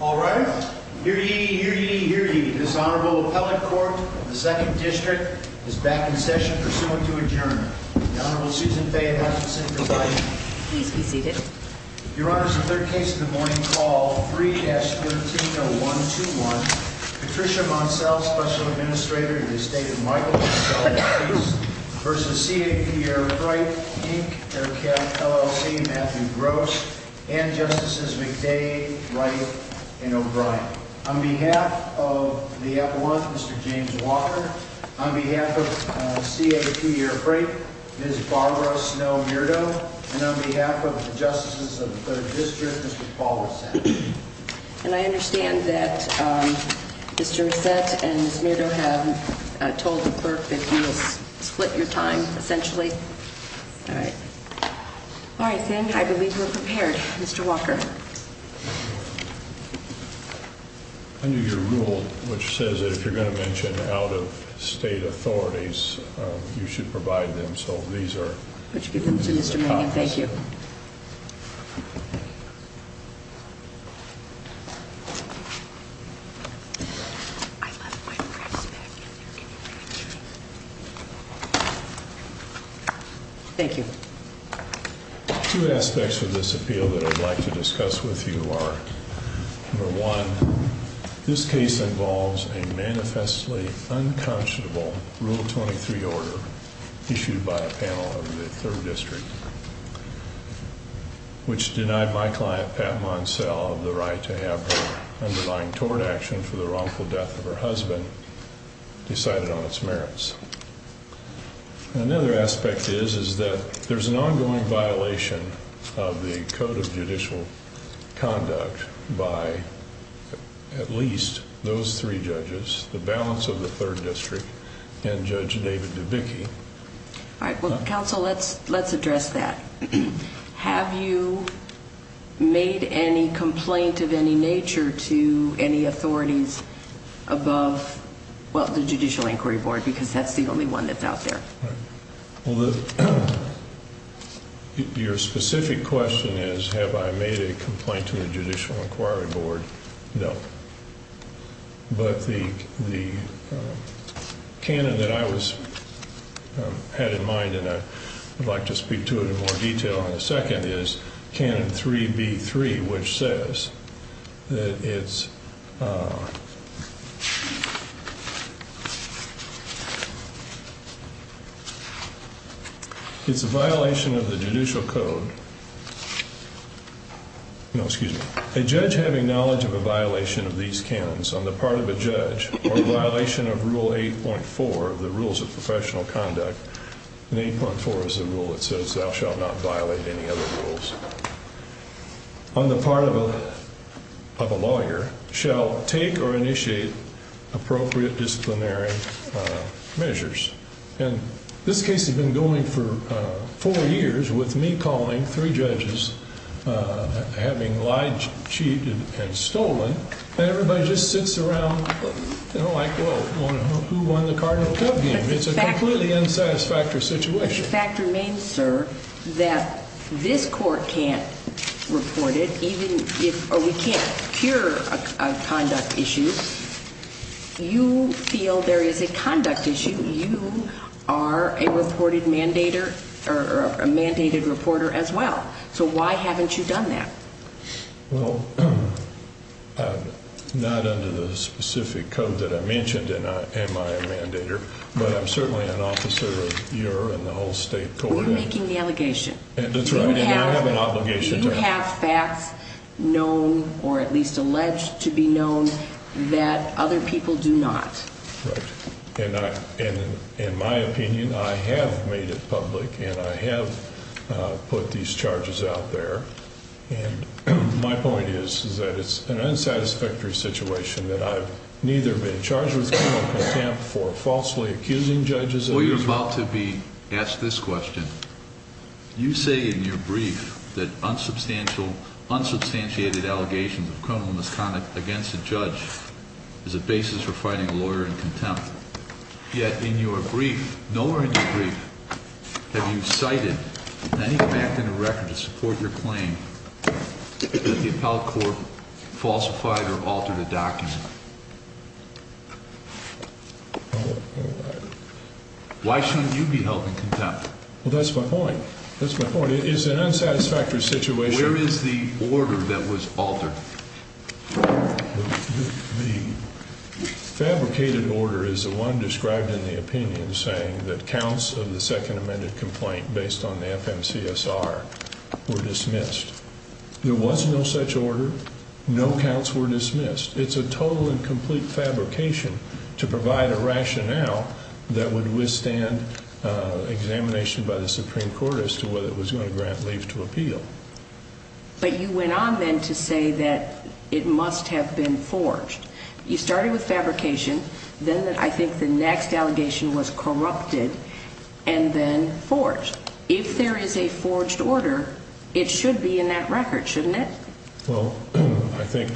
Alright, hear ye, hear ye, hear ye, this Honorable Appellate Court of the 2nd District is back in session, pursuant to adjournment. The Honorable Susan Faye Hutchinson, Providing. Please be seated. Your Honor, this is the third case of the morning, called 3-130121. Patricia Moncelle, Special Administrator in the estate of Michael and Michelle Moncelle v. C.A.P. Air Freight, Inc., L.L.C., Matthew Gross, and Justices McDade, Wright, and O'Brien. On behalf of the Appellant, Mr. James Walker. On behalf of C.A.P. Air Freight, Ms. Barbara Snow Murdo. And on behalf of the Justices of the 3rd District, Mr. Paul Resett. And I understand that Mr. Resett and Ms. Murdo have told the clerk that you will split your time, essentially. Alright. Alright, then, I believe we're prepared. Mr. Walker. Under your rule, which says that if you're going to mention out-of-state authorities, you should provide them. So, these are in the Congress. Thank you. Thank you. Thank you. Two aspects of this appeal that I'd like to discuss with you are, number one, this case involves a manifestly unconscionable Rule 23 order issued by a panel of the 3rd District, which denied my client, Pat Monsell, the right to have her underlying tort action for the wrongful death of her husband decided on its merits. Another aspect is that there's an ongoing violation of the Code of Judicial Conduct by at least those three judges, the balance of the 3rd District, and Judge David DeBicke. Alright, well, counsel, let's address that. Have you made any complaint of any nature to any authorities above, well, the Judicial Inquiry Board? Because that's the only one that's out there. Your specific question is, have I made a complaint to the Judicial Inquiry Board? No. But the canon that I had in mind, and I'd like to speak to it in more detail in a second, is Canon 3B3, which says that it's a violation of the Judicial Code. No, excuse me. A judge having knowledge of a violation of these canons on the part of a judge, or a violation of Rule 8.4 of the Rules of Professional Conduct, and 8.4 is the rule that says thou shalt not violate any other rules, on the part of a lawyer shall take or initiate appropriate disciplinary measures. And this case has been going for 4 years, with me calling 3 judges, having lied, cheated, and stolen, and everybody just sits around, you know, like, well, who won the Cardinal Cup game? It's a completely unsatisfactory situation. The fact remains, sir, that this court can't report it, or we can't cure a conduct issue. You feel there is a conduct issue. You are a reported mandator, or a mandated reporter as well. So why haven't you done that? Well, not under the specific code that I mentioned am I a mandator, but I'm certainly an officer of your and the whole state court. We're making the allegation. That's right, and I have an obligation to act. We have facts known, or at least alleged to be known, that other people do not. Right, and in my opinion, I have made it public, and I have put these charges out there, and my point is that it's an unsatisfactory situation, that I've neither been charged with criminal contempt for falsely accusing judges. Well, you're about to be asked this question. You say in your brief that unsubstantiated allegations of criminal misconduct against a judge is a basis for finding a lawyer in contempt. Yet in your brief, nowhere in your brief, have you cited any fact in the record to support your claim that the appellate court falsified or altered a document. Why shouldn't you be held in contempt? Well, that's my point. That's my point. It is an unsatisfactory situation. Where is the order that was altered? The fabricated order is the one described in the opinion, saying that counts of the second amended complaint based on the FMCSR were dismissed. There was no such order. No counts were dismissed. It's a total and complete fabrication to provide a rationale that would withstand examination by the Supreme Court as to whether it was going to grant leave to appeal. But you went on then to say that it must have been forged. You started with fabrication, then I think the next allegation was corrupted, and then forged. If there is a forged order, it should be in that record, shouldn't it? Well, I think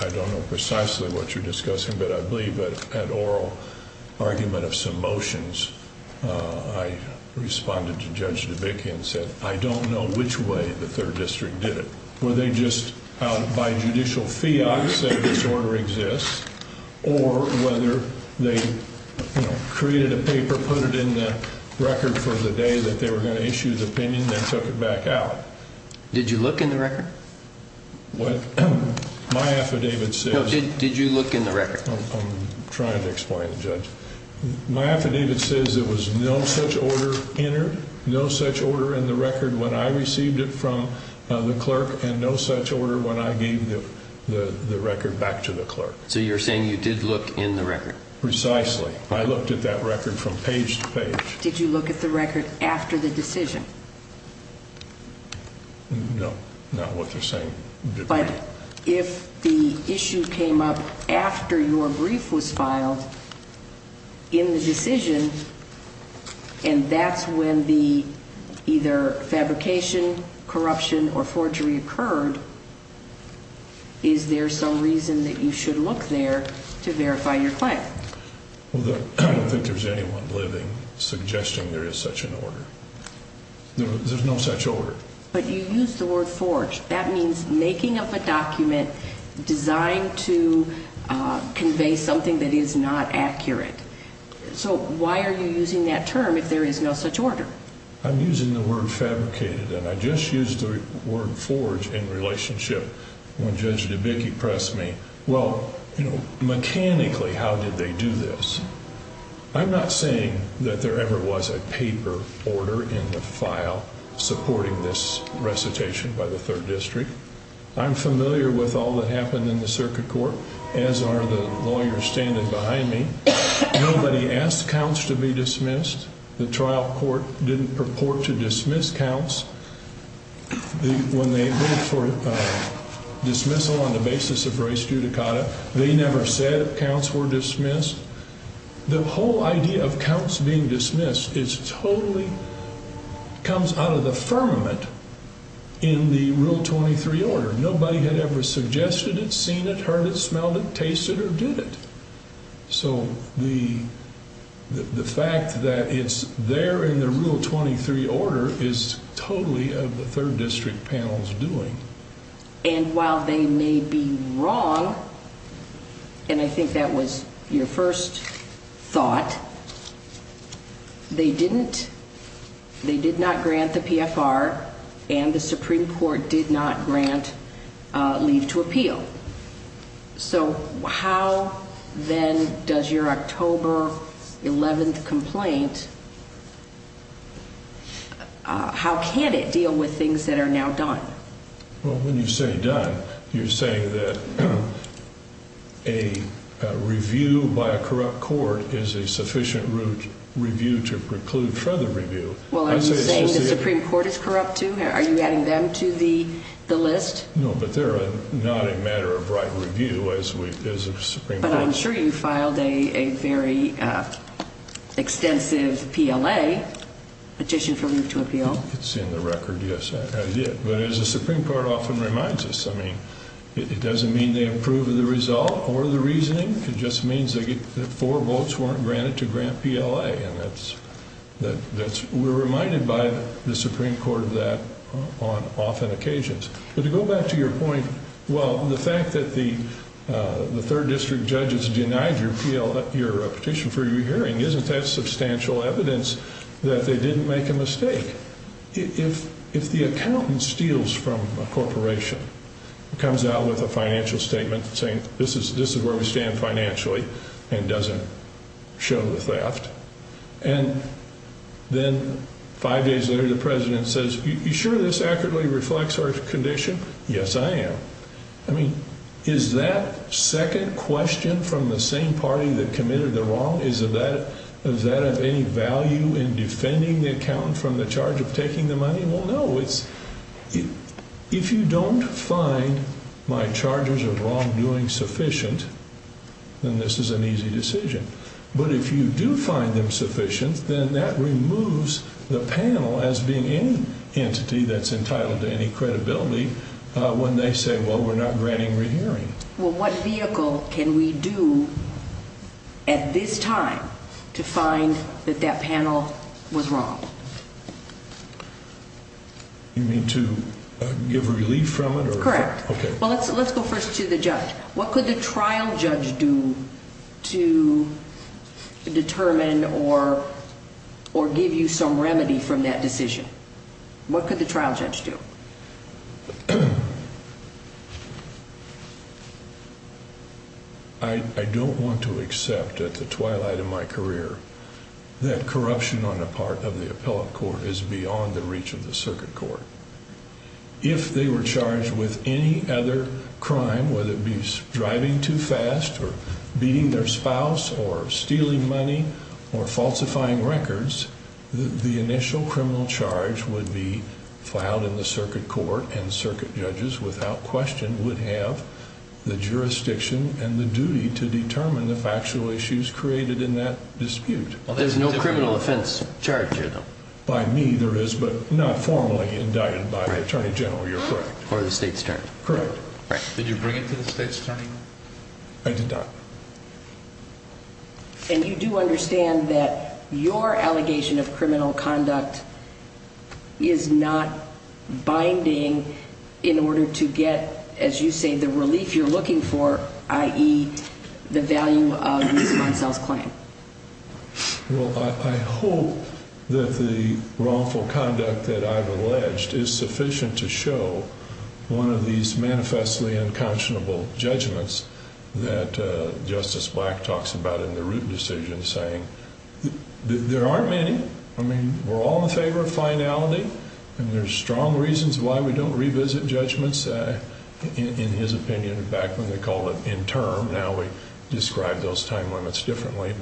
I don't know precisely what you're discussing, but I believe that an oral argument of some motions, I responded to Judge DeVicke and said, I don't know which way the Third District did it. Were they just out by judicial fiat to say this order exists, or whether they created a paper, put it in the record for the day that they were going to issue the opinion, then took it back out? Did you look in the record? What? My affidavit says... No, did you look in the record? I'm trying to explain it, Judge. My affidavit says there was no such order entered, no such order in the record when I received it from the clerk, and no such order when I gave the record back to the clerk. So you're saying you did look in the record? Precisely. I looked at that record from page to page. Did you look at the record after the decision? No, not what you're saying. But if the issue came up after your brief was filed in the decision, and that's when the either fabrication, corruption, or forgery occurred, is there some reason that you should look there to verify your claim? I don't think there's anyone living suggesting there is such an order. There's no such order. But you used the word forged. That means making up a document designed to convey something that is not accurate. So why are you using that term if there is no such order? I'm using the word fabricated, and I just used the word forged in relationship. When Judge DeBicke pressed me, well, mechanically, how did they do this? I'm not saying that there ever was a paper order in the file supporting this recitation by the 3rd District. I'm familiar with all that happened in the circuit court, as are the lawyers standing behind me. Nobody asked counts to be dismissed. The trial court didn't purport to dismiss counts. When they voted for dismissal on the basis of res judicata, they never said counts were dismissed. The whole idea of counts being dismissed totally comes out of the firmament in the Rule 23 order. Nobody had ever suggested it, seen it, heard it, smelled it, tasted it, or did it. So the fact that it's there in the Rule 23 order is totally of the 3rd District panel's doing. And while they may be wrong, and I think that was your first thought, they did not grant the PFR, and the Supreme Court did not grant leave to appeal. So how, then, does your October 11th complaint, how can it deal with things that are now done? Well, when you say done, you're saying that a review by a corrupt court is a sufficient review to preclude further review. Well, are you saying the Supreme Court is corrupt, too? Are you adding them to the list? No, but they're not a matter of right review as a Supreme Court. But I'm sure you filed a very extensive PLA petition for leave to appeal. It's in the record, yes, I did. But as the Supreme Court often reminds us, I mean, it doesn't mean they approve of the result or the reasoning. It just means that four votes weren't granted to grant PLA, and we're reminded by the Supreme Court of that on often occasions. But to go back to your point, well, the fact that the 3rd District judges denied your petition for your hearing, isn't that substantial evidence that they didn't make a mistake? If the accountant steals from a corporation, comes out with a financial statement saying, this is where we stand financially, and doesn't show the theft, and then five days later the president says, are you sure this accurately reflects our condition? Yes, I am. I mean, is that second question from the same party that committed the wrong? Does that have any value in defending the accountant from the charge of taking the money? Well, no. If you don't find my charges of wrongdoing sufficient, then this is an easy decision. But if you do find them sufficient, then that removes the panel as being any entity that's entitled to any credibility when they say, well, we're not granting your hearing. Well, what vehicle can we do at this time to find that that panel was wrong? You mean to give relief from it? Correct. Well, let's go first to the judge. What could the trial judge do to determine or give you some remedy from that decision? What could the trial judge do? I don't want to accept at the twilight of my career that corruption on the part of the appellate court is beyond the reach of the circuit court. If they were charged with any other crime, whether it be driving too fast or beating their spouse or stealing money or falsifying records, the initial criminal charge would be filed in the circuit court and circuit judges without question would have the jurisdiction and the duty to determine the factual issues created in that dispute. There's no criminal offense charge here, though. By me, there is, but not formally indicted by the attorney general. You're correct. Or the state's attorney. Correct. Did you bring it to the state's attorney? I did not. And you do understand that your allegation of criminal conduct is not binding in order to get, as you say, the relief you're looking for, i.e. the value of the response on the claim? Well, I hope that the wrongful conduct that I've alleged is sufficient to show one of these manifestly unconscionable judgments that Justice Black talks about in the Root decision, saying there aren't many. I mean, we're all in favor of finality, and there's strong reasons why we don't revisit judgments, in his opinion, back when they called it interim. Now we describe those time limits differently.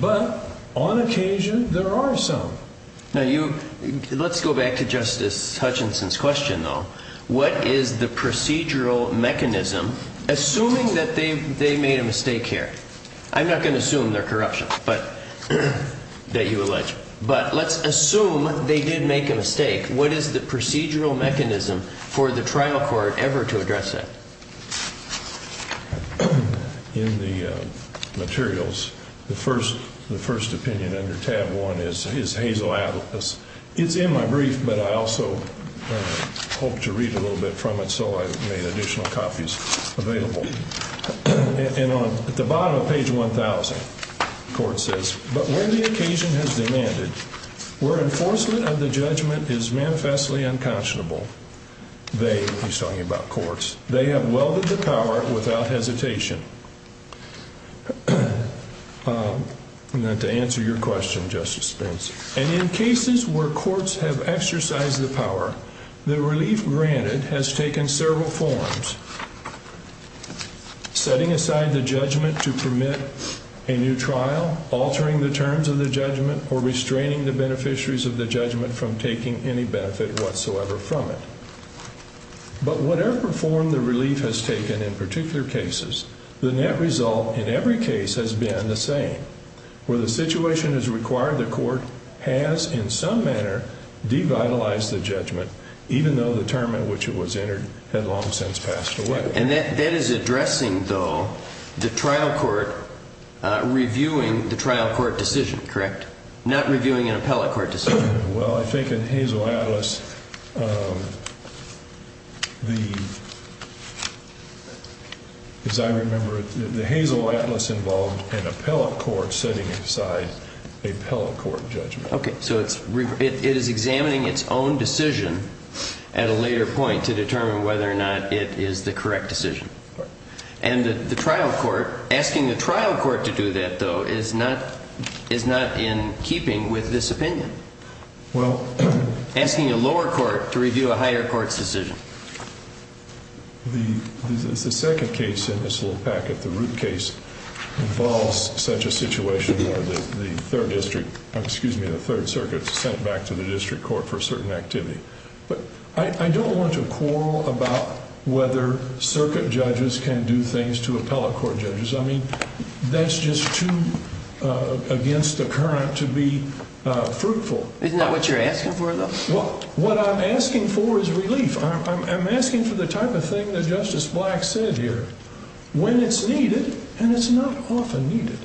But on occasion, there are some. Now, let's go back to Justice Hutchinson's question, though. What is the procedural mechanism, assuming that they made a mistake here? I'm not going to assume they're corruption that you allege, but let's assume they did make a mistake. What is the procedural mechanism for the trial court ever to address that? In the materials, the first opinion under tab 1 is Hazel Atlas. It's in my brief, but I also hoped to read a little bit from it, so I made additional copies available. And at the bottom of page 1,000, the court says, But where the occasion has demanded, where enforcement of the judgment is manifestly unconscionable, they, he's talking about courts, they have welded to power without hesitation. To answer your question, Justice Spence, and in cases where courts have exercised the power, the relief granted has taken several forms, setting aside the judgment to permit a new trial, altering the terms of the judgment, or restraining the beneficiaries of the judgment from taking any benefit whatsoever from it. But whatever form the relief has taken in particular cases, the net result in every case has been the same. Where the situation has required, the court has in some manner devitalized the judgment, even though the term in which it was entered had long since passed away. And that is addressing, though, the trial court reviewing the trial court decision, correct? Not reviewing an appellate court decision. Well, I think in Hazel Atlas, the, as I remember it, the Hazel Atlas involved an appellate court setting aside a appellate court judgment. Okay. So it's, it is examining its own decision at a later point to determine whether or not it is the correct decision. Right. And the trial court, asking the trial court to do that, though, is not in keeping with this opinion. Well. Asking a lower court to review a higher court's decision. The second case in this little packet, the Root case, involves such a situation where the third district, excuse me, the third circuit is sent back to the district court for a certain activity. But I don't want to quarrel about whether circuit judges can do things to appellate court judges. I mean, that's just too against the current to be fruitful. Isn't that what you're asking for, though? Well, what I'm asking for is relief. I'm asking for the type of thing that Justice Black said here. When it's needed, and it's not often needed,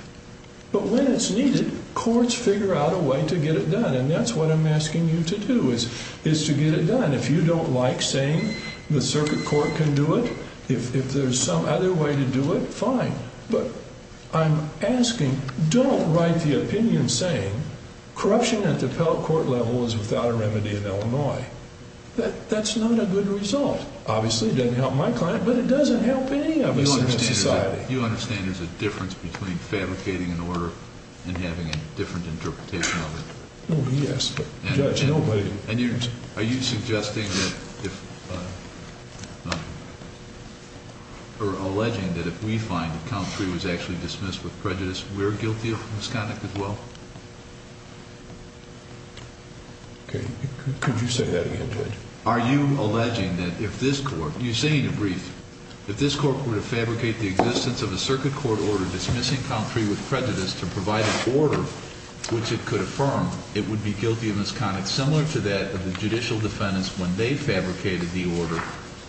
but when it's needed, courts figure out a way to get it done. And that's what I'm asking you to do, is to get it done. If you don't like saying the circuit court can do it, if there's some other way to do it, fine. But I'm asking, don't write the opinion saying corruption at the appellate court level is without a remedy in Illinois. That's not a good result. Obviously, it doesn't help my client, but it doesn't help any of us in this society. You understand there's a difference between fabricating an order and having a different interpretation of it? Oh, yes. And are you suggesting that if ‑‑ or alleging that if we find that count three was actually dismissed with prejudice, we're guilty of misconduct as well? Okay. Could you say that again, Judge? Are you alleging that if this court ‑‑ you say in your brief that this court were to fabricate the existence of a circuit court order dismissing count three with prejudice to provide an order which it could affirm, it would be guilty of misconduct similar to that of the judicial defendants when they fabricated the order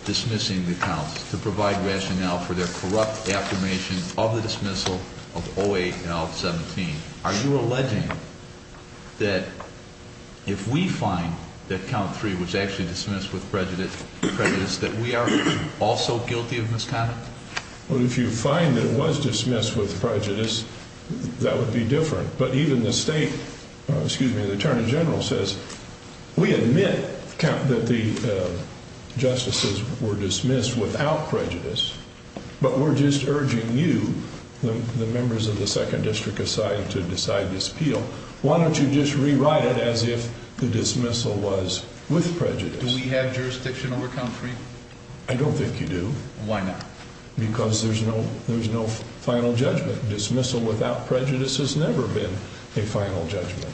dismissing the counts to provide rationale for their corrupt affirmation of the dismissal of 08L17? Are you alleging that if we find that count three was actually dismissed with prejudice, that we are also guilty of misconduct? Well, if you find that it was dismissed with prejudice, that would be different. But even the state ‑‑ excuse me, the attorney general says we admit that the justices were dismissed without prejudice, but we're just urging you, the members of the second district aside, to decide this appeal. Why don't you just rewrite it as if the dismissal was with prejudice? Do we have jurisdiction over count three? I don't think you do. Why not? Because there's no final judgment. Dismissal without prejudice has never been a final judgment.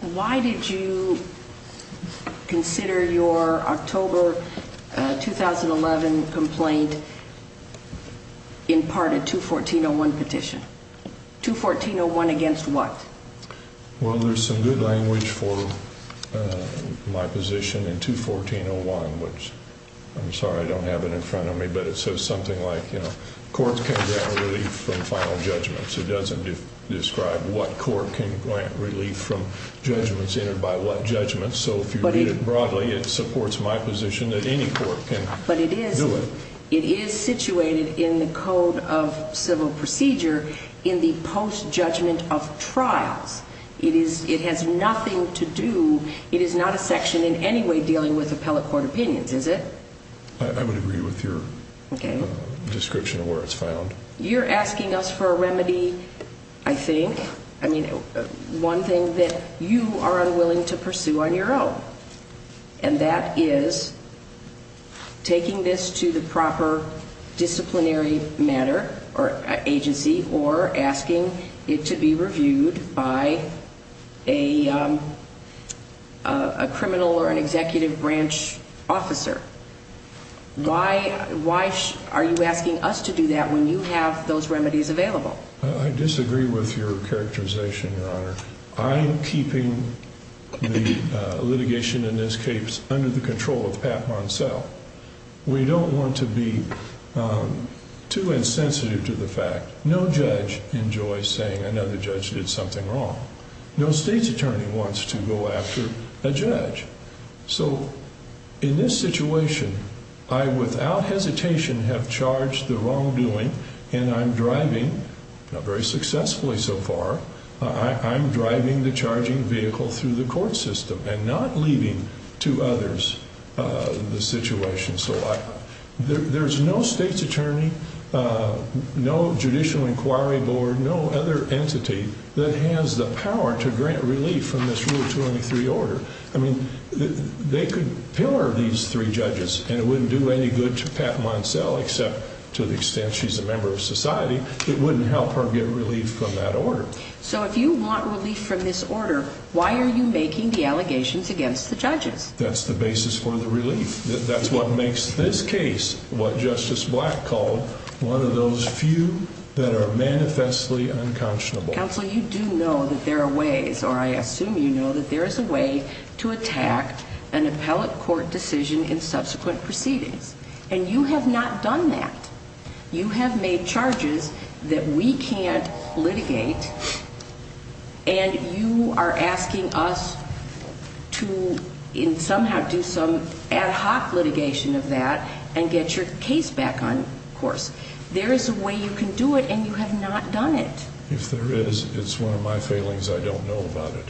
Why did you consider your October 2011 complaint in part a 214.01 petition? 214.01 against what? Well, there's some good language for my position in 214.01. I'm sorry I don't have it in front of me, but it says something like, you know, courts can grant relief from final judgments. It doesn't describe what court can grant relief from judgments entered by what judgments. So if you read it broadly, it supports my position that any court can do it. It is situated in the code of civil procedure in the postjudgment of trials. It has nothing to do ‑‑ it is not a section in any way dealing with appellate court opinions, is it? I would agree with your description of where it's found. You're asking us for a remedy, I think. I mean, one thing that you are unwilling to pursue on your own. And that is taking this to the proper disciplinary matter or agency or asking it to be reviewed by a criminal or an executive branch officer. Why are you asking us to do that when you have those remedies available? I disagree with your characterization, Your Honor. I'm keeping the litigation in this case under the control of Pat Monselle. We don't want to be too insensitive to the fact no judge enjoys saying another judge did something wrong. No state's attorney wants to go after a judge. So in this situation, I without hesitation have charged the wrongdoing, and I'm driving, not very successfully so far, I'm driving the charging vehicle through the court system and not leaving to others the situation. So there's no state's attorney, no Judicial Inquiry Board, no other entity that has the power to grant relief from this Rule 23 order. I mean, they could pillar these three judges, and it wouldn't do any good to Pat Monselle, except to the extent she's a member of society, it wouldn't help her get relief from that order. So if you want relief from this order, why are you making the allegations against the judges? That's the basis for the relief. That's what makes this case, what Justice Black called, one of those few that are manifestly unconscionable. Counsel, you do know that there are ways, or I assume you know that there is a way, to attack an appellate court decision in subsequent proceedings. And you have not done that. You have made charges that we can't litigate, and you are asking us to somehow do some ad hoc litigation of that and get your case back on course. There is a way you can do it, and you have not done it. If there is, it's one of my failings. I don't know about it.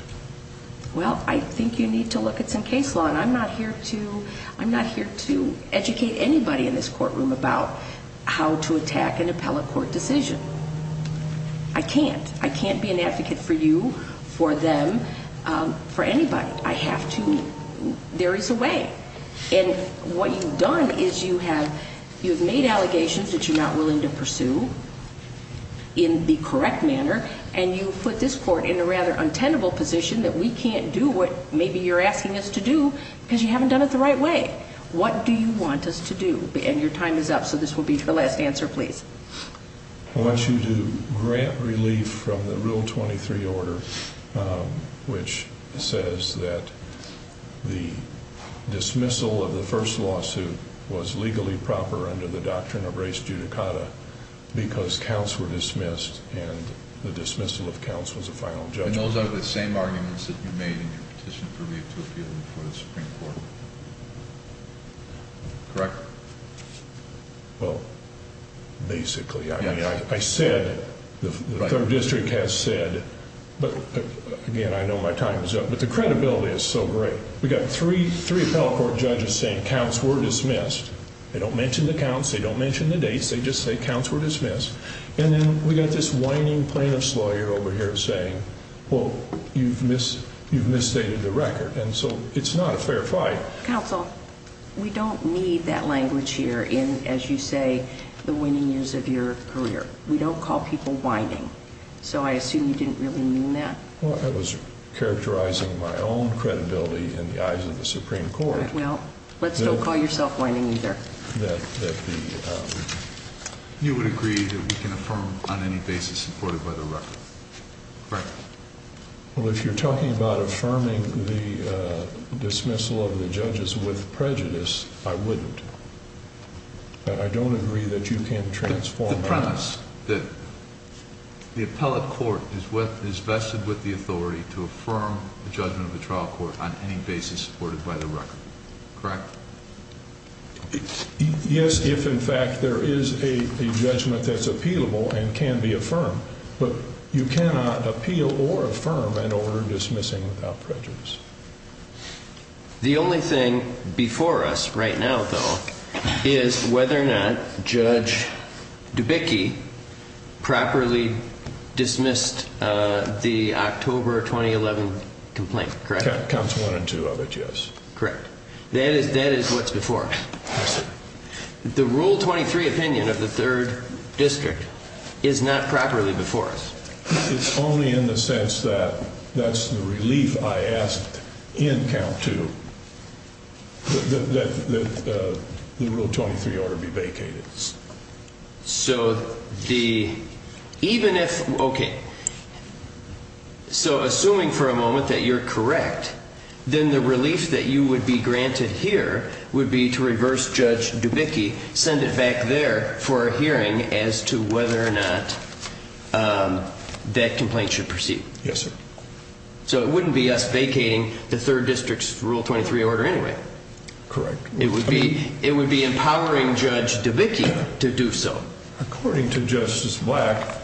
Well, I think you need to look at some case law, and I'm not here to educate anybody in this courtroom about how to attack an appellate court decision. I can't. I can't be an advocate for you, for them, for anybody. I have to. There is a way. And what you've done is you have made allegations that you're not willing to pursue in the correct manner, and you've put this court in a rather untenable position that we can't do what maybe you're asking us to do because you haven't done it the right way. What do you want us to do? And your time is up, so this will be your last answer, please. I want you to grant relief from the Rule 23 order, which says that the dismissal of the first lawsuit was legally proper under the doctrine of res judicata because counts were dismissed and the dismissal of counts was a final judgment. And those are the same arguments that you made in your petition for relief to appeal before the Supreme Court, correct? Well, basically, I said, the third district has said, but again, I know my time is up, but the credibility is so great. We've got three appellate court judges saying counts were dismissed. They don't mention the counts. They don't mention the dates. They just say counts were dismissed. And then we've got this whining plaintiff's lawyer over here saying, well, you've misstated the record, and so it's not a fair fight. Counsel, we don't need that language here in, as you say, the winning years of your career. We don't call people whining, so I assume you didn't really mean that. Well, I was characterizing my own credibility in the eyes of the Supreme Court. Well, let's don't call yourself whining either. You would agree that we can affirm on any basis supported by the record, correct? Well, if you're talking about affirming the dismissal of the judges with prejudice, I wouldn't. I don't agree that you can transform that. The premise that the appellate court is vested with the authority to affirm the judgment of the trial court on any basis supported by the record, correct? Yes, if, in fact, there is a judgment that's appealable and can be affirmed. But you cannot appeal or affirm an order dismissing without prejudice. The only thing before us right now, though, is whether or not Judge Dubicki properly dismissed the October 2011 complaint, correct? Counts one and two of it, yes. Correct. That is what's before us. The Rule 23 opinion of the Third District is not properly before us. It's only in the sense that that's the relief I asked in count two that the Rule 23 order be vacated. So assuming for a moment that you're correct, then the relief that you would be granted here would be to reverse Judge Dubicki, send it back there for a hearing as to whether or not that complaint should proceed. Yes, sir. So it wouldn't be us vacating the Third District's Rule 23 order anyway. Correct. It would be empowering Judge Dubicki to do so. According to Justice Black,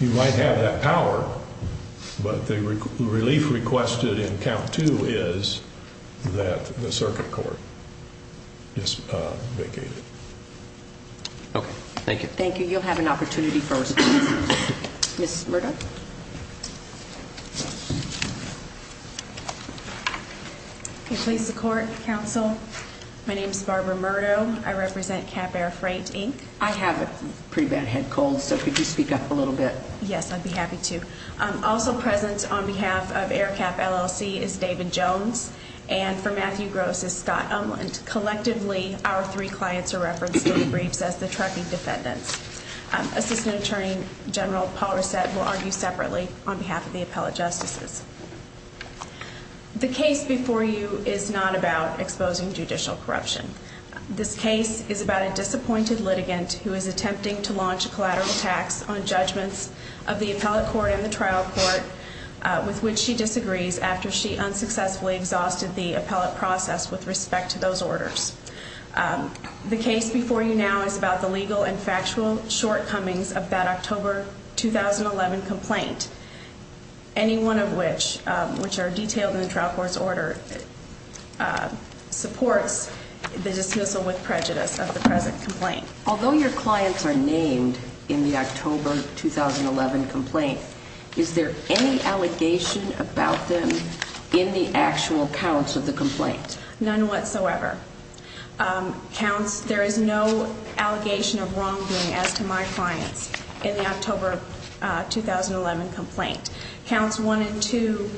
you might have that power, but the relief requested in count two is that the circuit court vacate it. Okay. Thank you. Thank you. You'll have an opportunity for response. Ms. Murdoch? Okay. Please support, counsel. My name is Barbara Murdoch. I represent Cap Air Freight, Inc. I have a pretty bad head cold, so could you speak up a little bit? Yes, I'd be happy to. Also present on behalf of Air Cap LLC is David Jones, and for Matthew Gross is Scott Umland. Collectively, our three clients are referenced in the briefs as the trucking defendants. Assistant Attorney General Paul Rosette will argue separately on behalf of the appellate justices. The case before you is not about exposing judicial corruption. This case is about a disappointed litigant who is attempting to launch a collateral tax on judgments of the appellate court and the trial court, with which she disagrees after she unsuccessfully exhausted the appellate process with respect to those orders. The case before you now is about the legal and factual shortcomings of that October 2011 complaint, any one of which, which are detailed in the trial court's order, supports the dismissal with prejudice of the present complaint. Although your clients are named in the October 2011 complaint, is there any allegation about them in the actual counts of the complaint? None whatsoever. Counts, there is no allegation of wrongdoing as to my clients in the October 2011 complaint. Counts one and two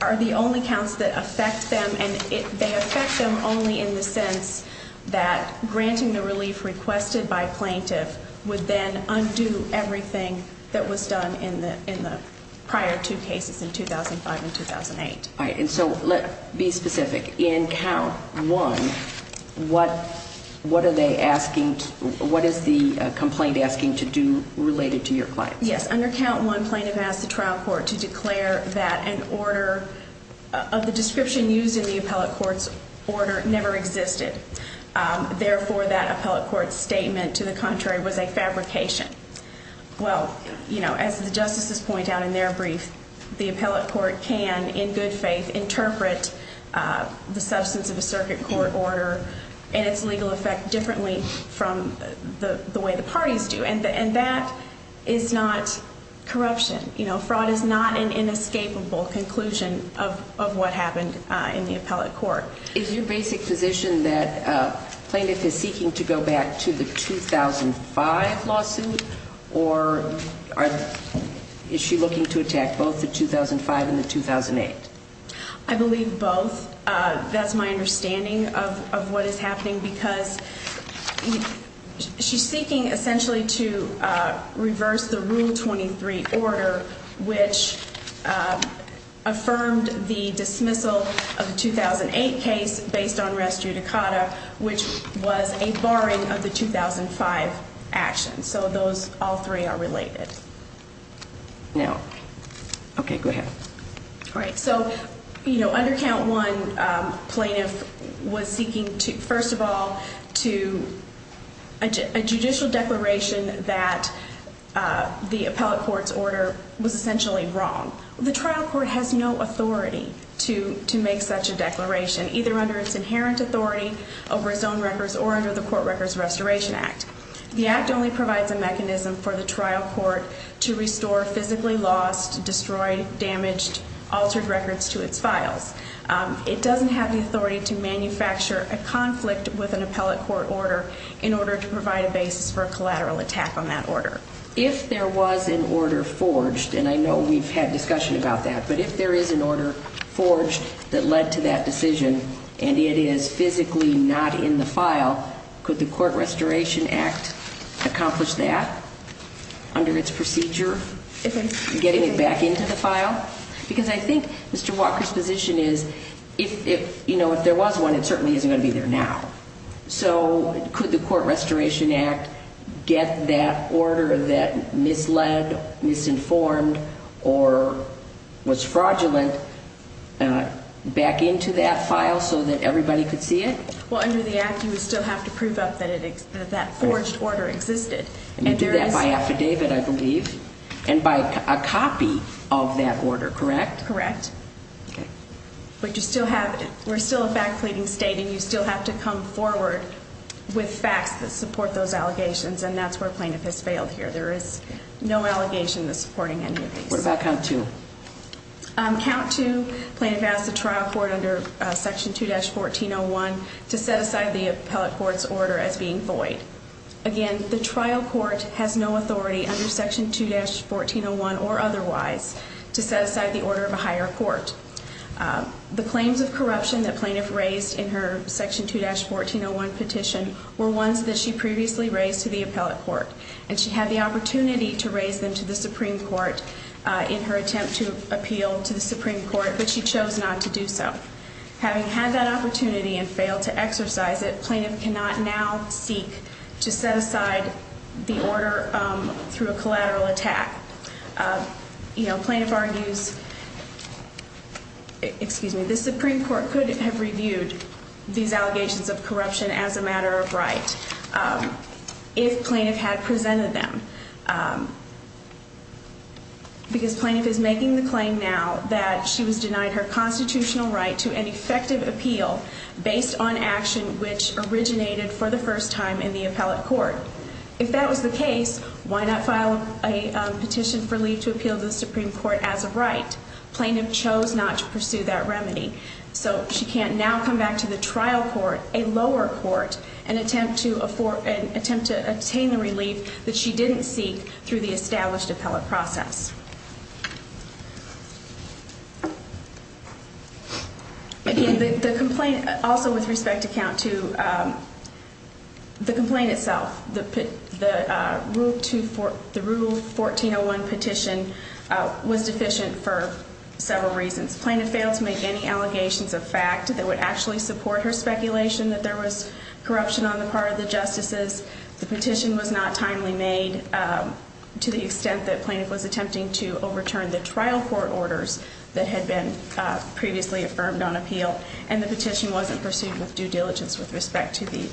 are the only counts that affect them, and they affect them only in the sense that granting the relief requested by a plaintiff would then undo everything that was done in the prior two cases in 2005 and 2008. All right, and so let's be specific. In count one, what are they asking, what is the complaint asking to do related to your clients? Yes, under count one, plaintiff asked the trial court to declare that an order of the description used in the appellate court's order never existed. Therefore, that appellate court's statement, to the contrary, was a fabrication. Well, as the justices point out in their brief, the appellate court can, in good faith, interpret the substance of a circuit court order and its legal effect differently from the way the parties do. And that is not corruption. Fraud is not an inescapable conclusion of what happened in the appellate court. Is your basic position that plaintiff is seeking to go back to the 2005 lawsuit, or is she looking to attack both the 2005 and the 2008? I believe both. That's my understanding of what is happening, because she's seeking essentially to reverse the Rule 23 order, which affirmed the dismissal of the 2008 case based on res judicata, which was a barring of the 2005 action. So those all three are related. Now, okay, go ahead. All right, so under Count 1, plaintiff was seeking, first of all, to a judicial declaration that the appellate court's order was essentially wrong. The trial court has no authority to make such a declaration, either under its inherent authority over its own records or under the Court Records Restoration Act. The Act only provides a mechanism for the trial court to restore physically lost, destroyed, damaged, altered records to its files. It doesn't have the authority to manufacture a conflict with an appellate court order in order to provide a basis for a collateral attack on that order. If there was an order forged, and I know we've had discussion about that, but if there is an order forged that led to that decision and it is physically not in the file, could the Court Restoration Act accomplish that under its procedure, getting it back into the file? Because I think Mr. Walker's position is if there was one, it certainly isn't going to be there now. So could the Court Restoration Act get that order that misled, misinformed, or was fraudulent back into that file so that everybody could see it? Well, under the Act, you would still have to prove up that that forged order existed. And you do that by affidavit, I believe, and by a copy of that order, correct? Correct. Okay. But you still have it. We're still a back pleading state, and you still have to come forward with facts that support those allegations, and that's where plaintiff has failed here. There is no allegation that's supporting any of these. What about count two? Count two, plaintiff asked the trial court under Section 2-1401 to set aside the appellate court's order as being void. Again, the trial court has no authority under Section 2-1401 or otherwise to set aside the order of a higher court. The claims of corruption that plaintiff raised in her Section 2-1401 petition were ones that she previously raised to the appellate court, and she had the opportunity to raise them to the Supreme Court in her attempt to appeal to the Supreme Court, but she chose not to do so. Having had that opportunity and failed to exercise it, plaintiff cannot now seek to set aside the order through a collateral attack. You know, plaintiff argues, excuse me, the Supreme Court could have reviewed these allegations of corruption as a matter of right if plaintiff had presented them, because plaintiff is making the claim now that she was denied her constitutional right to an effective appeal based on action which originated for the first time in the appellate court. If that was the case, why not file a petition for leave to appeal to the Supreme Court as a right? Plaintiff chose not to pursue that remedy, so she can't now come back to the trial court, a lower court, and attempt to obtain the relief that she didn't seek through the established appellate process. Again, the complaint also with respect to, the complaint itself, the Rule 1401 petition was deficient for several reasons. Plaintiff failed to make any allegations of fact that would actually support her speculation that there was corruption on the part of the justices. The petition was not timely made to the extent that plaintiff was attempting to overturn the trial court orders that had been previously affirmed on appeal, and the petition wasn't pursued with due diligence with respect to the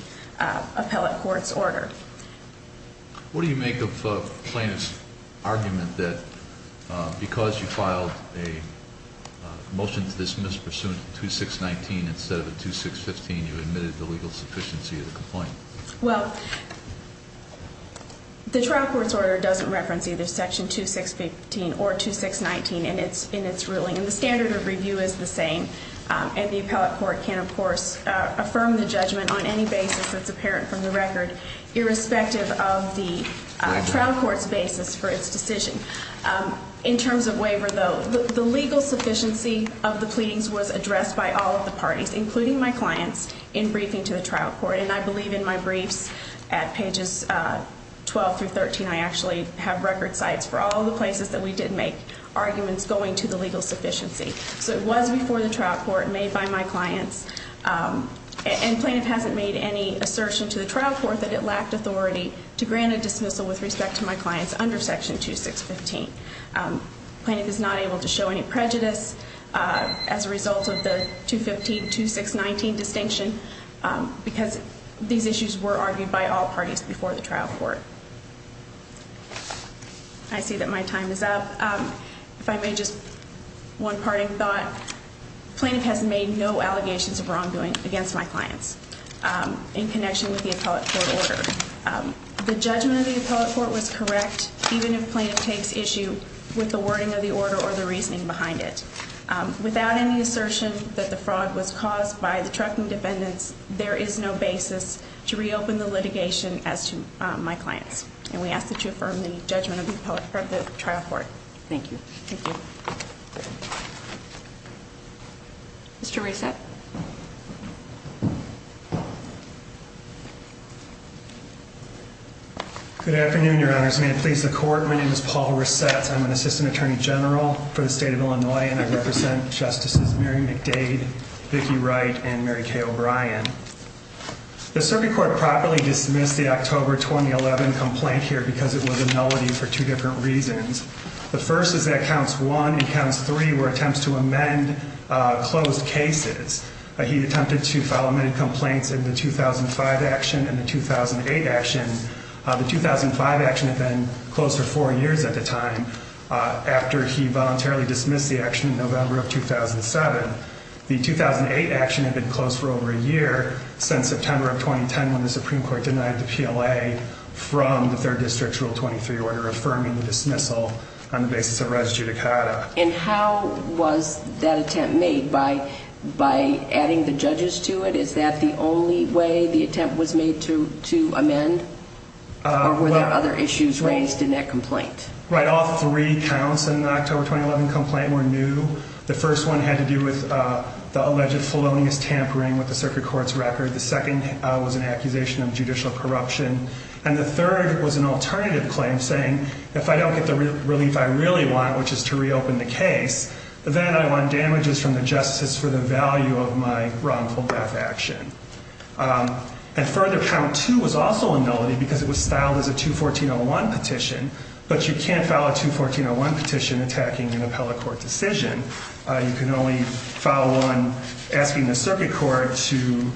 appellate court's order. What do you make of plaintiff's argument that because you filed a motion to dismiss pursuant to 2619 instead of a 2615, you admitted the legal sufficiency of the complaint? Well, the trial court's order doesn't reference either section 2615 or 2619 in its ruling, and the standard of review is the same, and the appellate court can, of course, affirm the judgment on any basis that's apparent from the record, irrespective of the trial court's basis for its decision. In terms of waiver, though, the legal sufficiency of the pleadings was addressed by all of the parties, including my clients, in briefing to the trial court, and I believe in my briefs at pages 12 through 13, I actually have record sites for all the places that we did make arguments going to the legal sufficiency. So it was before the trial court, made by my clients, and plaintiff hasn't made any assertion to the trial court that it lacked authority to grant a dismissal with respect to my clients under section 2615. Plaintiff is not able to show any prejudice as a result of the 215-2619 distinction because these issues were argued by all parties before the trial court. I see that my time is up. If I may, just one parting thought. Plaintiff has made no allegations of wrongdoing against my clients in connection with the appellate court order. The judgment of the appellate court was correct, even if plaintiff takes issue with the wording of the order or the reasoning behind it. Without any assertion that the fraud was caused by the trucking defendants, there is no basis to reopen the litigation as to my clients, and we ask that you affirm the judgment of the trial court. Thank you. Thank you. Mr. Resett. Good afternoon, Your Honor. May it please the court, my name is Paul Resett. I'm an assistant attorney general for the state of Illinois, and I represent Justices Mary McDade, Vicki Wright, and Mary Kay O'Brien. The circuit court properly dismissed the October 2011 complaint here because it was a nullity for two different reasons. The first is that Counts 1 and Counts 3 were attempts to amend closed cases. He attempted to file amended complaints in the 2005 action and the 2008 action. The 2005 action had been closed for four years at the time after he voluntarily dismissed the action in November of 2007. The 2008 action had been closed for over a year since September of 2010 when the Supreme Court denied the PLA from the Third District's Rule 23 order, affirming the dismissal on the basis of res judicata. And how was that attempt made? By adding the judges to it, is that the only way the attempt was made to amend? Or were there other issues raised in that complaint? Right, all three counts in the October 2011 complaint were new. The first one had to do with the alleged felonious tampering with the circuit court's record. The second was an accusation of judicial corruption. And the third was an alternative claim, saying, if I don't get the relief I really want, which is to reopen the case, then I want damages from the justices for the value of my wrongful death action. And further, Count 2 was also a nullity because it was styled as a 214.01 petition, but you can't file a 214.01 petition attacking an appellate court decision. You can only file one asking the circuit court to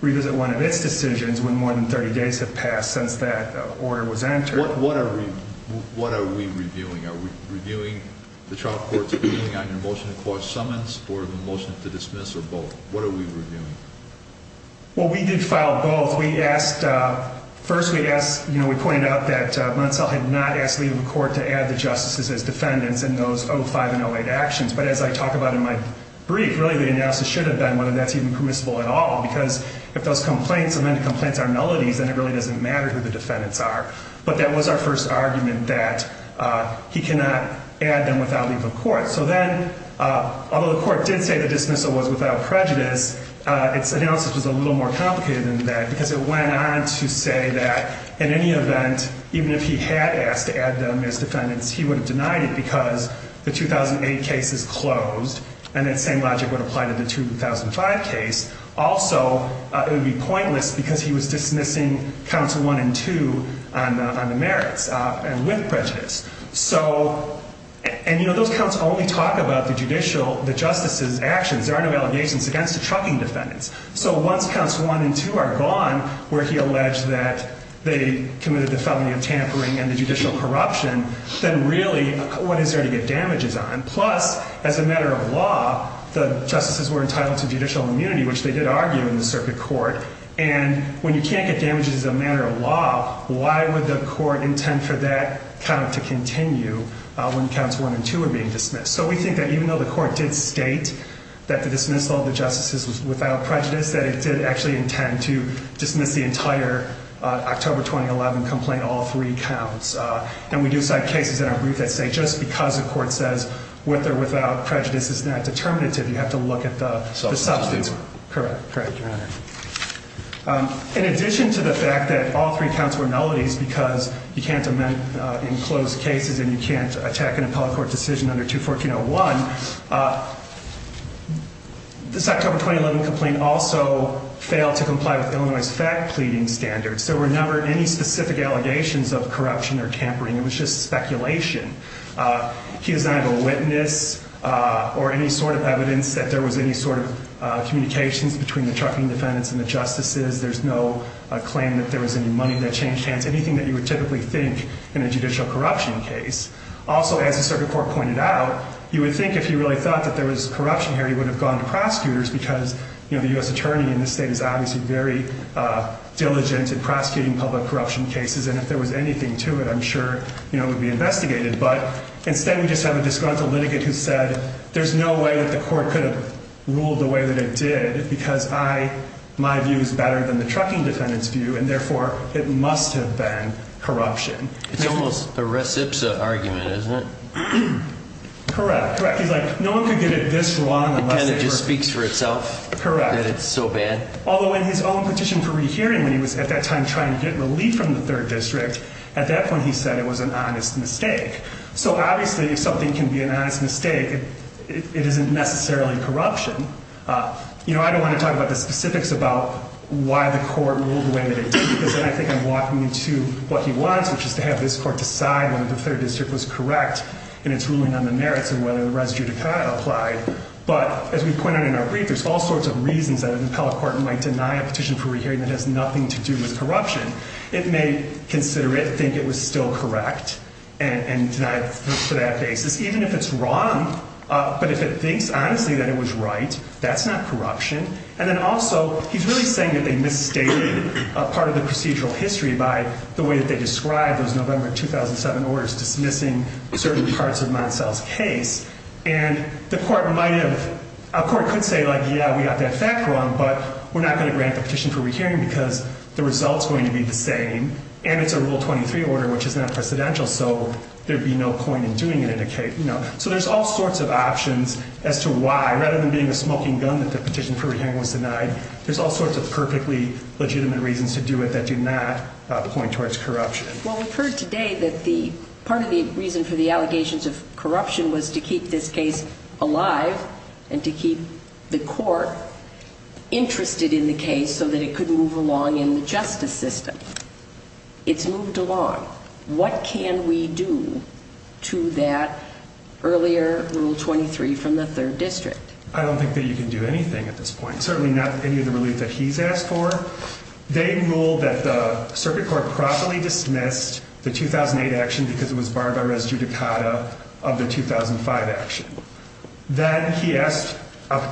revisit one of its decisions when more than 30 days have passed since that order was entered. What are we reviewing? Are we reviewing the trial court's opinion on your motion to cause summons, or the motion to dismiss, or both? What are we reviewing? Well, we did file both. First, we pointed out that Munsell had not asked leave of the court to add the justices as defendants in those 05 and 08 actions. But as I talk about in my brief, really the analysis should have been whether that's even permissible at all, because if those complaints are nullities, then it really doesn't matter who the defendants are. But that was our first argument, that he cannot add them without leave of court. So then, although the court did say the dismissal was without prejudice, its analysis was a little more complicated than that, because it went on to say that in any event, even if he had asked to add them as defendants, he would have denied it because the 2008 case is closed, and that same logic would apply to the 2005 case. Also, it would be pointless because he was dismissing counts one and two on the merits, and with prejudice. So, and you know, those counts only talk about the judicial, the justices' actions. There are no allegations against the trucking defendants. So once counts one and two are gone, where he alleged that they committed the felony of tampering and the judicial corruption, then really, what is there to get damages on? Plus, as a matter of law, the justices were entitled to judicial immunity, which they did argue in the circuit court. And when you can't get damages as a matter of law, why would the court intend for that count to continue when counts one and two are being dismissed? So we think that even though the court did state that the dismissal of the justices was without prejudice, that it did actually intend to dismiss the entire October 2011 complaint, all three counts. And we do cite cases in our brief that say just because the court says with or without prejudice is not determinative, you have to look at the substance. Correct. Correct, Your Honor. In addition to the fact that all three counts were melodies because you can't amend in closed cases and you can't attack an appellate court decision under 214.01, this October 2011 complaint also failed to comply with Illinois' fact pleading standards. There were never any specific allegations of corruption or tampering. It was just speculation. He does not have a witness or any sort of evidence that there was any sort of communications between the trucking defendants and the justices. There's no claim that there was any money that changed hands, anything that you would typically think in a judicial corruption case. Also, as the circuit court pointed out, you would think if he really thought that there was corruption here, he would have gone to prosecutors because, you know, the U.S. attorney in this state is obviously very diligent in prosecuting public corruption cases, and if there was anything to it, I'm sure, you know, it would be investigated. But instead we just have a disgruntled litigant who said there's no way that the court could have ruled the way that it did because my view is better than the trucking defendant's view, and therefore it must have been corruption. It's almost a recipsa argument, isn't it? Correct, correct. He's like, no one could get it this wrong unless they were... It kind of just speaks for itself. Correct. That it's so bad. Although in his own petition for rehearing when he was at that time trying to get relief from the 3rd District, at that point he said it was an honest mistake. So obviously if something can be an honest mistake, it isn't necessarily corruption. You know, I don't want to talk about the specifics about why the court ruled the way that it did because then I think I'm walking into what he wants, which is to have this court decide whether the 3rd District was correct in its ruling on the merits and whether the res judicata applied. But as we pointed out in our brief, there's all sorts of reasons that an appellate court might deny a petition for rehearing that has nothing to do with corruption. It may consider it, think it was still correct, and deny it for that basis. Even if it's wrong, but if it thinks honestly that it was right, that's not corruption. And then also, he's really saying that they misstated part of the procedural history by the way that they described those November 2007 orders dismissing certain parts of Montsell's case. And the court might have... A court could say, like, yeah, we got that fact wrong, but we're not going to grant the petition for rehearing because the result's going to be the same and it's a Rule 23 order, which is not precedential. So there'd be no point in doing it in a case. So there's all sorts of options as to why, rather than being a smoking gun that the petition for rehearing was denied, there's all sorts of perfectly legitimate reasons to do it that do not point towards corruption. Well, we've heard today that part of the reason for the allegations of corruption was to keep this case alive and to keep the court interested in the case so that it could move along in the justice system. It's moved along. What can we do to that earlier Rule 23 from the 3rd District? I don't think that you can do anything at this point. Certainly not any of the relief that he's asked for. They ruled that the circuit court properly dismissed the 2008 action because it was barred by res judicata of the 2005 action. Then he asked,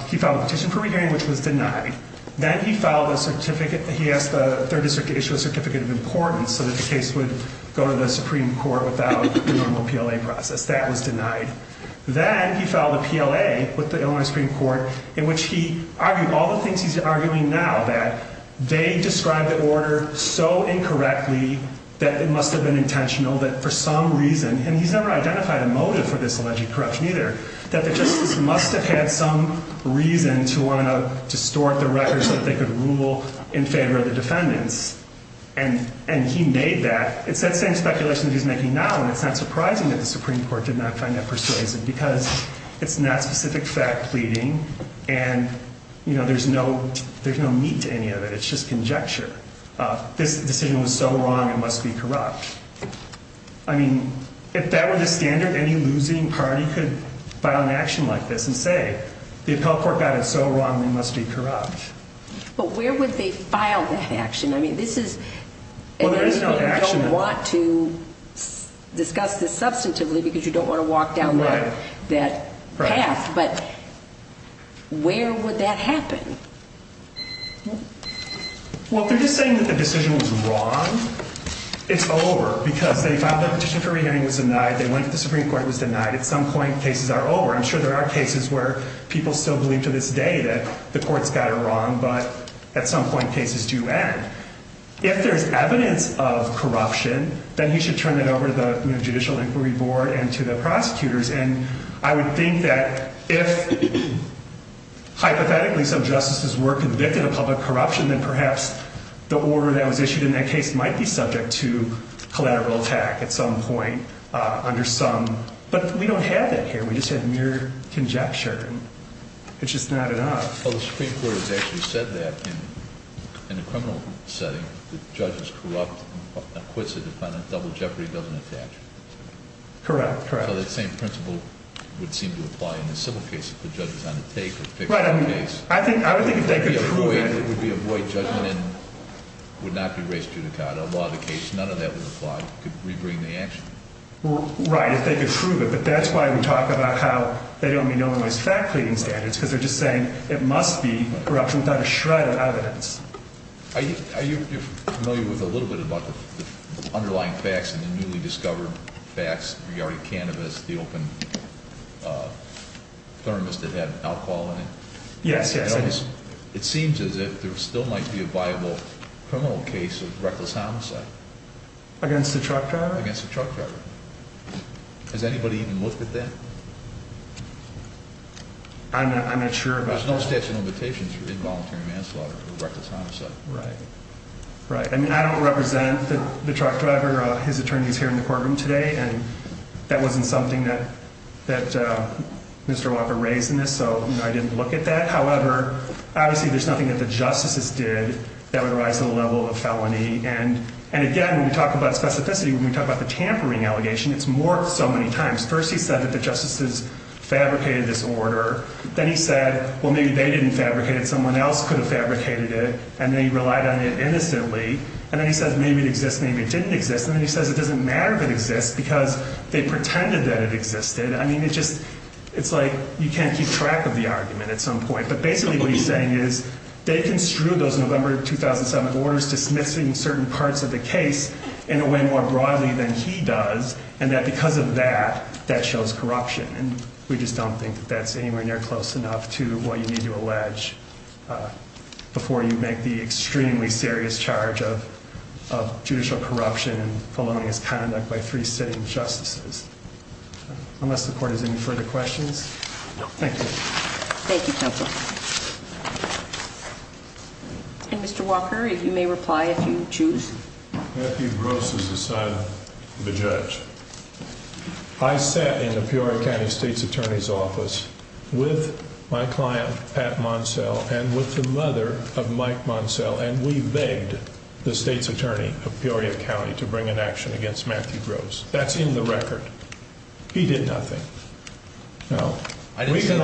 he filed a petition for rehearing, which was denied. Then he filed a certificate, he asked the 3rd District to issue a certificate of importance so that the case would go to the Supreme Court without the normal PLA process. That was denied. Then he filed a PLA with the Illinois Supreme Court in which he argued all the things he's arguing now, that they described the order so incorrectly that it must have been intentional that for some reason, and he's never identified a motive for this alleged corruption either, that the justice must have had some reason to want to distort the records that they could rule in favor of the defendants. And he made that. It's that same speculation that he's making now, and it's not surprising that the Supreme Court did not find that persuasive because it's not specific fact pleading and there's no meat to any of it. It's just conjecture. This decision was so wrong, it must be corrupt. I mean, if that were the standard, any losing party could file an action like this and say, the appellate court got it so wrong, it must be corrupt. But where would they file that action? I mean, this is an issue that you don't want to discuss this substantively because you don't want to walk down that path, but where would that happen? Well, if they're just saying that the decision was wrong, it's over. Because they filed that petition for re-hearing, it was denied. They went to the Supreme Court, it was denied. At some point, cases are over. I'm sure there are cases where people still believe to this day that the court's got it wrong, but at some point, cases do end. If there's evidence of corruption, then you should turn that over to the Judicial Inquiry Board and to the prosecutors. And I would think that if, hypothetically, some justices were convicted of public corruption, then perhaps the order that was issued in that case might be subject to collateral attack at some point under some—but we don't have that here. We just have mere conjecture. It's just not enough. Well, the Supreme Court has actually said that in a criminal setting, if a judge is corrupt and quits a defendant, double jeopardy doesn't attach. Correct, correct. So that same principle would seem to apply in a civil case if the judge was on the take of a fictional case. Right, I mean, I would think if they could prove it— It would be a void judgment and would not be raised to the court. A law of the case, none of that would apply. It could re-bring the action. Right, if they could prove it. But that's why we talk about how they don't mean no one wants fat-cleaning standards because they're just saying it must be corruption without a shred of evidence. Are you familiar with a little bit about the underlying facts and the newly discovered facts regarding cannabis, the open thermos that had alcohol in it? Yes, yes. It seems as if there still might be a viable criminal case of reckless homicide. Against a truck driver? Against a truck driver. Has anybody even looked at that? I'm not sure about— There's no statute of limitations for involuntary manslaughter or reckless homicide. Right, right. I mean, I don't represent the truck driver. His attorney is here in the courtroom today, and that wasn't something that Mr. Walker raised in this, so I didn't look at that. However, obviously there's nothing that the justices did that would rise to the level of felony. And again, when we talk about specificity, when we talk about the tampering allegation, it's more so many times. First he said that the justices fabricated this order. Then he said, well, maybe they didn't fabricate it. Someone else could have fabricated it, and they relied on it innocently. And then he says maybe it exists, maybe it didn't exist. And then he says it doesn't matter if it exists because they pretended that it existed. I mean, it's like you can't keep track of the argument at some point. But basically what he's saying is they construed those November 2007 orders dismissing certain parts of the case in a way more broadly than he does, and that because of that, that shows corruption. And we just don't think that that's anywhere near close enough to what you need to allege before you make the extremely serious charge of judicial corruption and felonious conduct by three sitting justices. Unless the court has any further questions. Thank you. Thank you, counsel. And Mr. Walker, you may reply if you choose. Matthew Gross is a son of a judge. I sat in the Peoria County state's attorney's office with my client, Pat Monsell, and with the mother of Mike Monsell, and we begged the state's attorney of Peoria County to bring an action against Matthew Gross. That's in the record. He did nothing. I didn't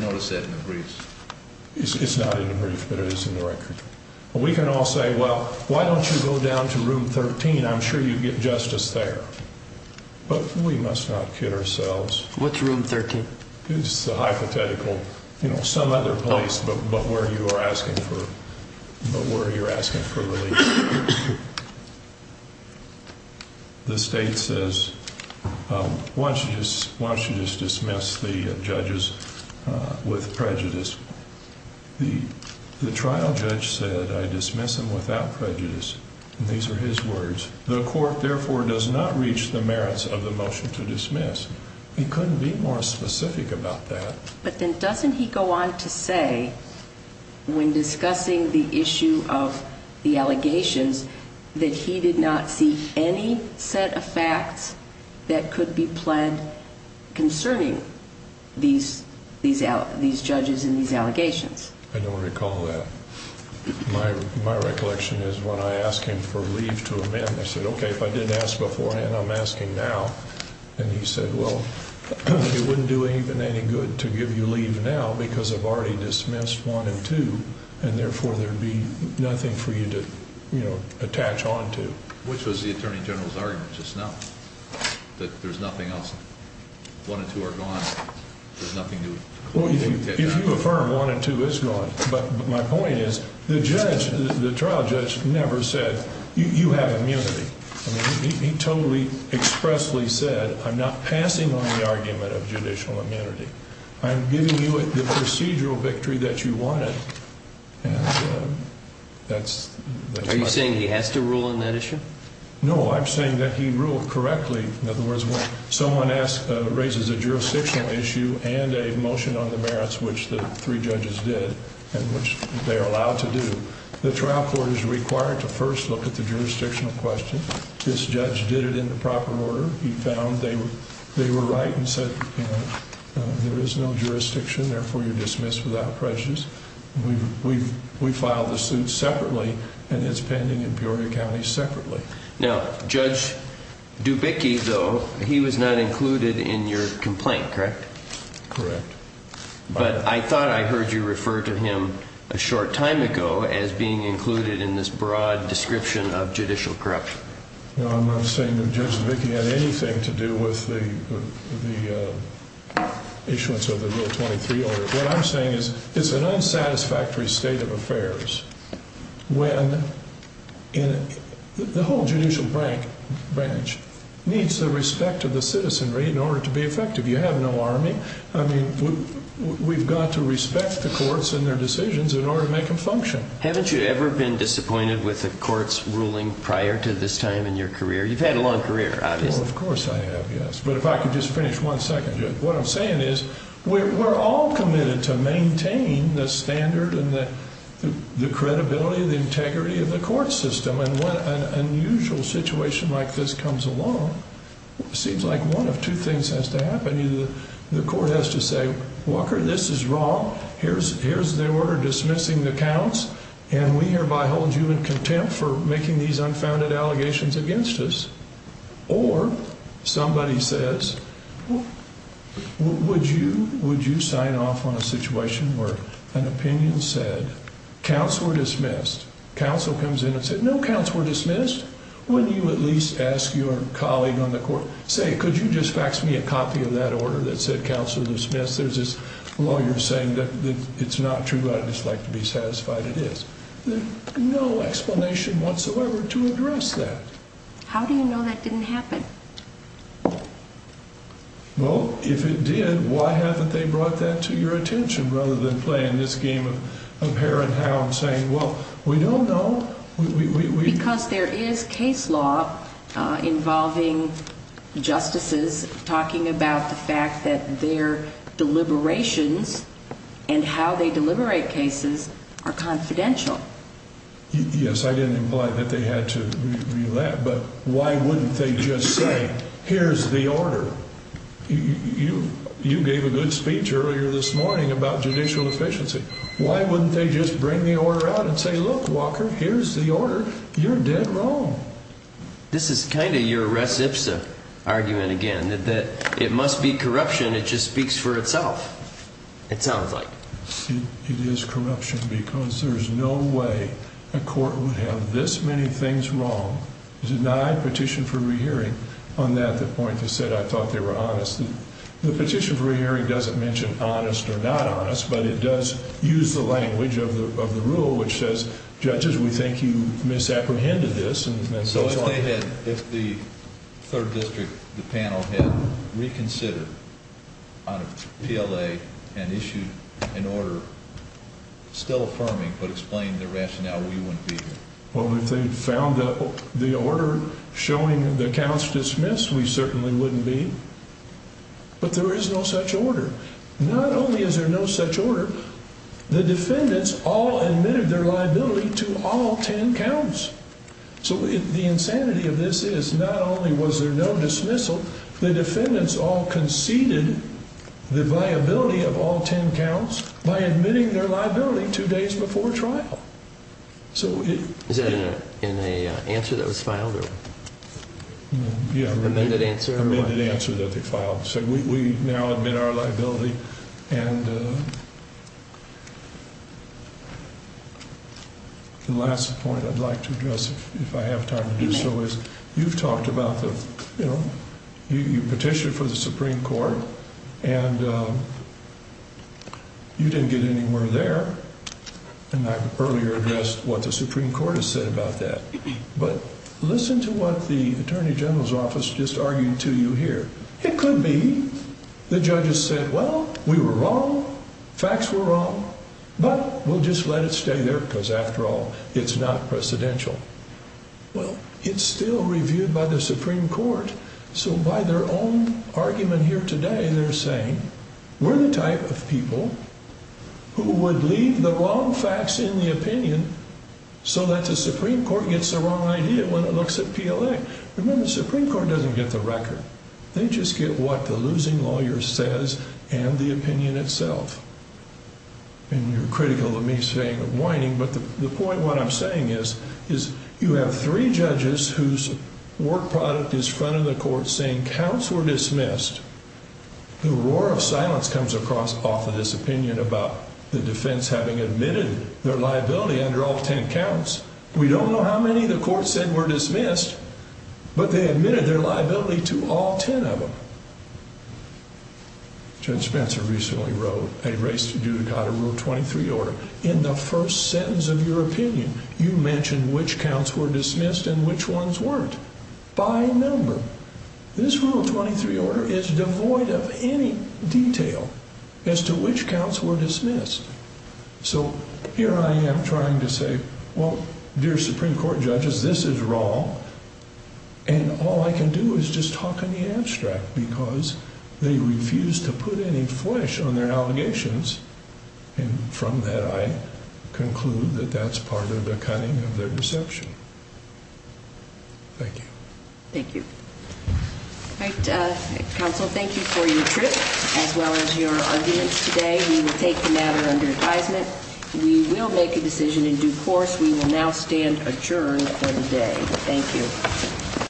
notice that in the briefs. It's not in the brief, but it is in the record. We can all say, well, why don't you go down to room 13? I'm sure you get justice there. But we must not kid ourselves. What's room 13? It's a hypothetical, you know, some other place but where you are asking for relief. The state says, why don't you just dismiss the judges with prejudice? The trial judge said, I dismiss them without prejudice, and these are his words. The court, therefore, does not reach the merits of the motion to dismiss. He couldn't be more specific about that. But then doesn't he go on to say, when discussing the issue of the allegations, that he did not see any set of facts that could be pled concerning these judges and these allegations? I don't recall that. My recollection is when I asked him for leave to amend, I said, okay, if I didn't ask beforehand, I'm asking now. And he said, well, it wouldn't do any good to give you leave now because I've already dismissed one and two, and therefore there would be nothing for you to, you know, attach on to. Which was the attorney general's argument just now, that there's nothing else. One and two are gone. There's nothing new. Well, if you affirm one and two is gone. But my point is, the judge, the trial judge never said, you have immunity. I mean, he totally expressly said, I'm not passing on the argument of judicial immunity. I'm giving you the procedural victory that you wanted. And that's my point. Are you saying he has to rule on that issue? No, I'm saying that he ruled correctly. In other words, when someone raises a jurisdictional issue and a motion on the merits, which the three judges did, and which they are allowed to do, the trial court is required to first look at the jurisdictional question. This judge did it in the proper order. He found they were right and said, you know, there is no jurisdiction, therefore you're dismissed without prejudice. We filed the suit separately, and it's pending in Peoria County separately. Now, Judge Dubicki, though, he was not included in your complaint, correct? Correct. But I thought I heard you refer to him a short time ago as being included in this broad description of judicial corruption. No, I'm not saying that Judge Dubicki had anything to do with the issuance of the Rule 23 order. What I'm saying is it's an unsatisfactory state of affairs when the whole judicial branch needs the respect of the citizenry in order to be effective. You have no army. I mean, we've got to respect the courts and their decisions in order to make them function. Haven't you ever been disappointed with a court's ruling prior to this time in your career? You've had a long career, obviously. Well, of course I have, yes. But if I could just finish one second, Judge. What I'm saying is we're all committed to maintain the standard and the credibility and the integrity of the court system, and when an unusual situation like this comes along, it seems like one of two things has to happen. The court has to say, Walker, this is wrong. Here's the order dismissing the counts, and we hereby hold you in contempt for making these unfounded allegations against us. Or somebody says, would you sign off on a situation where an opinion said counts were dismissed? Counsel comes in and says, no counts were dismissed. Wouldn't you at least ask your colleague on the court, say, could you just fax me a copy of that order that said counts were dismissed? There's this lawyer saying that it's not true. I'd just like to be satisfied it is. There's no explanation whatsoever to address that. How do you know that didn't happen? Well, if it did, why haven't they brought that to your attention rather than playing this game of hare and hound, saying, well, we don't know. Because there is case law involving justices talking about the fact that their deliberations and how they deliberate cases are confidential. Yes, I didn't imply that they had to do that, but why wouldn't they just say, here's the order? You gave a good speech earlier this morning about judicial efficiency. Why wouldn't they just bring the order out and say, look, Walker, here's the order. You're dead wrong. This is kind of your reception argument again that it must be corruption. It just speaks for itself. It sounds like it is corruption because there is no way a court would have this many things wrong denied petition for rehearing on that. The point you said, I thought they were honest. The petition for rehearing doesn't mention honest or not honest, but it does use the language of the rule, which says, judges, we think you misapprehended this. So if they had, if the third district, the panel had reconsidered on a PLA and issued an order still affirming but explaining the rationale, we wouldn't be here. Well, if they found the order showing the counts dismissed, we certainly wouldn't be. But there is no such order. Not only is there no such order, the defendants all admitted their liability to all 10 counts. So the insanity of this is not only was there no dismissal, the defendants all conceded the viability of all 10 counts by admitting their liability two days before trial. So is that in a answer that was filed? Yeah. Amended answer? Amended answer that they filed. So we now admit our liability. And the last point I'd like to address, if I have time to do so, is you've talked about, you know, you petitioned for the Supreme Court and you didn't get anywhere there. And I earlier addressed what the Supreme Court has said about that. But listen to what the Attorney General's office just argued to you here. It could be the judges said, well, we were wrong. Facts were wrong. But we'll just let it stay there because after all, it's not precedential. Well, it's still reviewed by the Supreme Court. So by their own argument here today, they're saying we're the type of people who would leave the wrong facts in the opinion so that the Supreme Court gets the wrong idea when it looks at PLA. Remember, the Supreme Court doesn't get the record. They just get what the losing lawyer says and the opinion itself. And you're critical of me saying whining. But the point what I'm saying is, is you have three judges whose work product is front of the court saying counts were dismissed. The roar of silence comes across off of this opinion about the defense having admitted their liability under all 10 counts. We don't know how many the court said were dismissed, but they admitted their liability to all 10 of them. Judge Spencer recently wrote a race to do. Got a rule 23 order in the first sentence of your opinion. You mentioned which counts were dismissed and which ones weren't by number. This rule 23 order is devoid of any detail as to which counts were dismissed. So here I am trying to say, well, dear Supreme Court judges, this is wrong. And all I can do is just talk in the abstract because they refuse to put any flesh on their allegations. And from that, I conclude that that's part of the cutting of their deception. Thank you. Thank you. All right. Counsel, thank you for your trip as well as your arguments today. We will take the matter under advisement. We will make a decision in due course. We will now stand adjourned for the day. Thank you.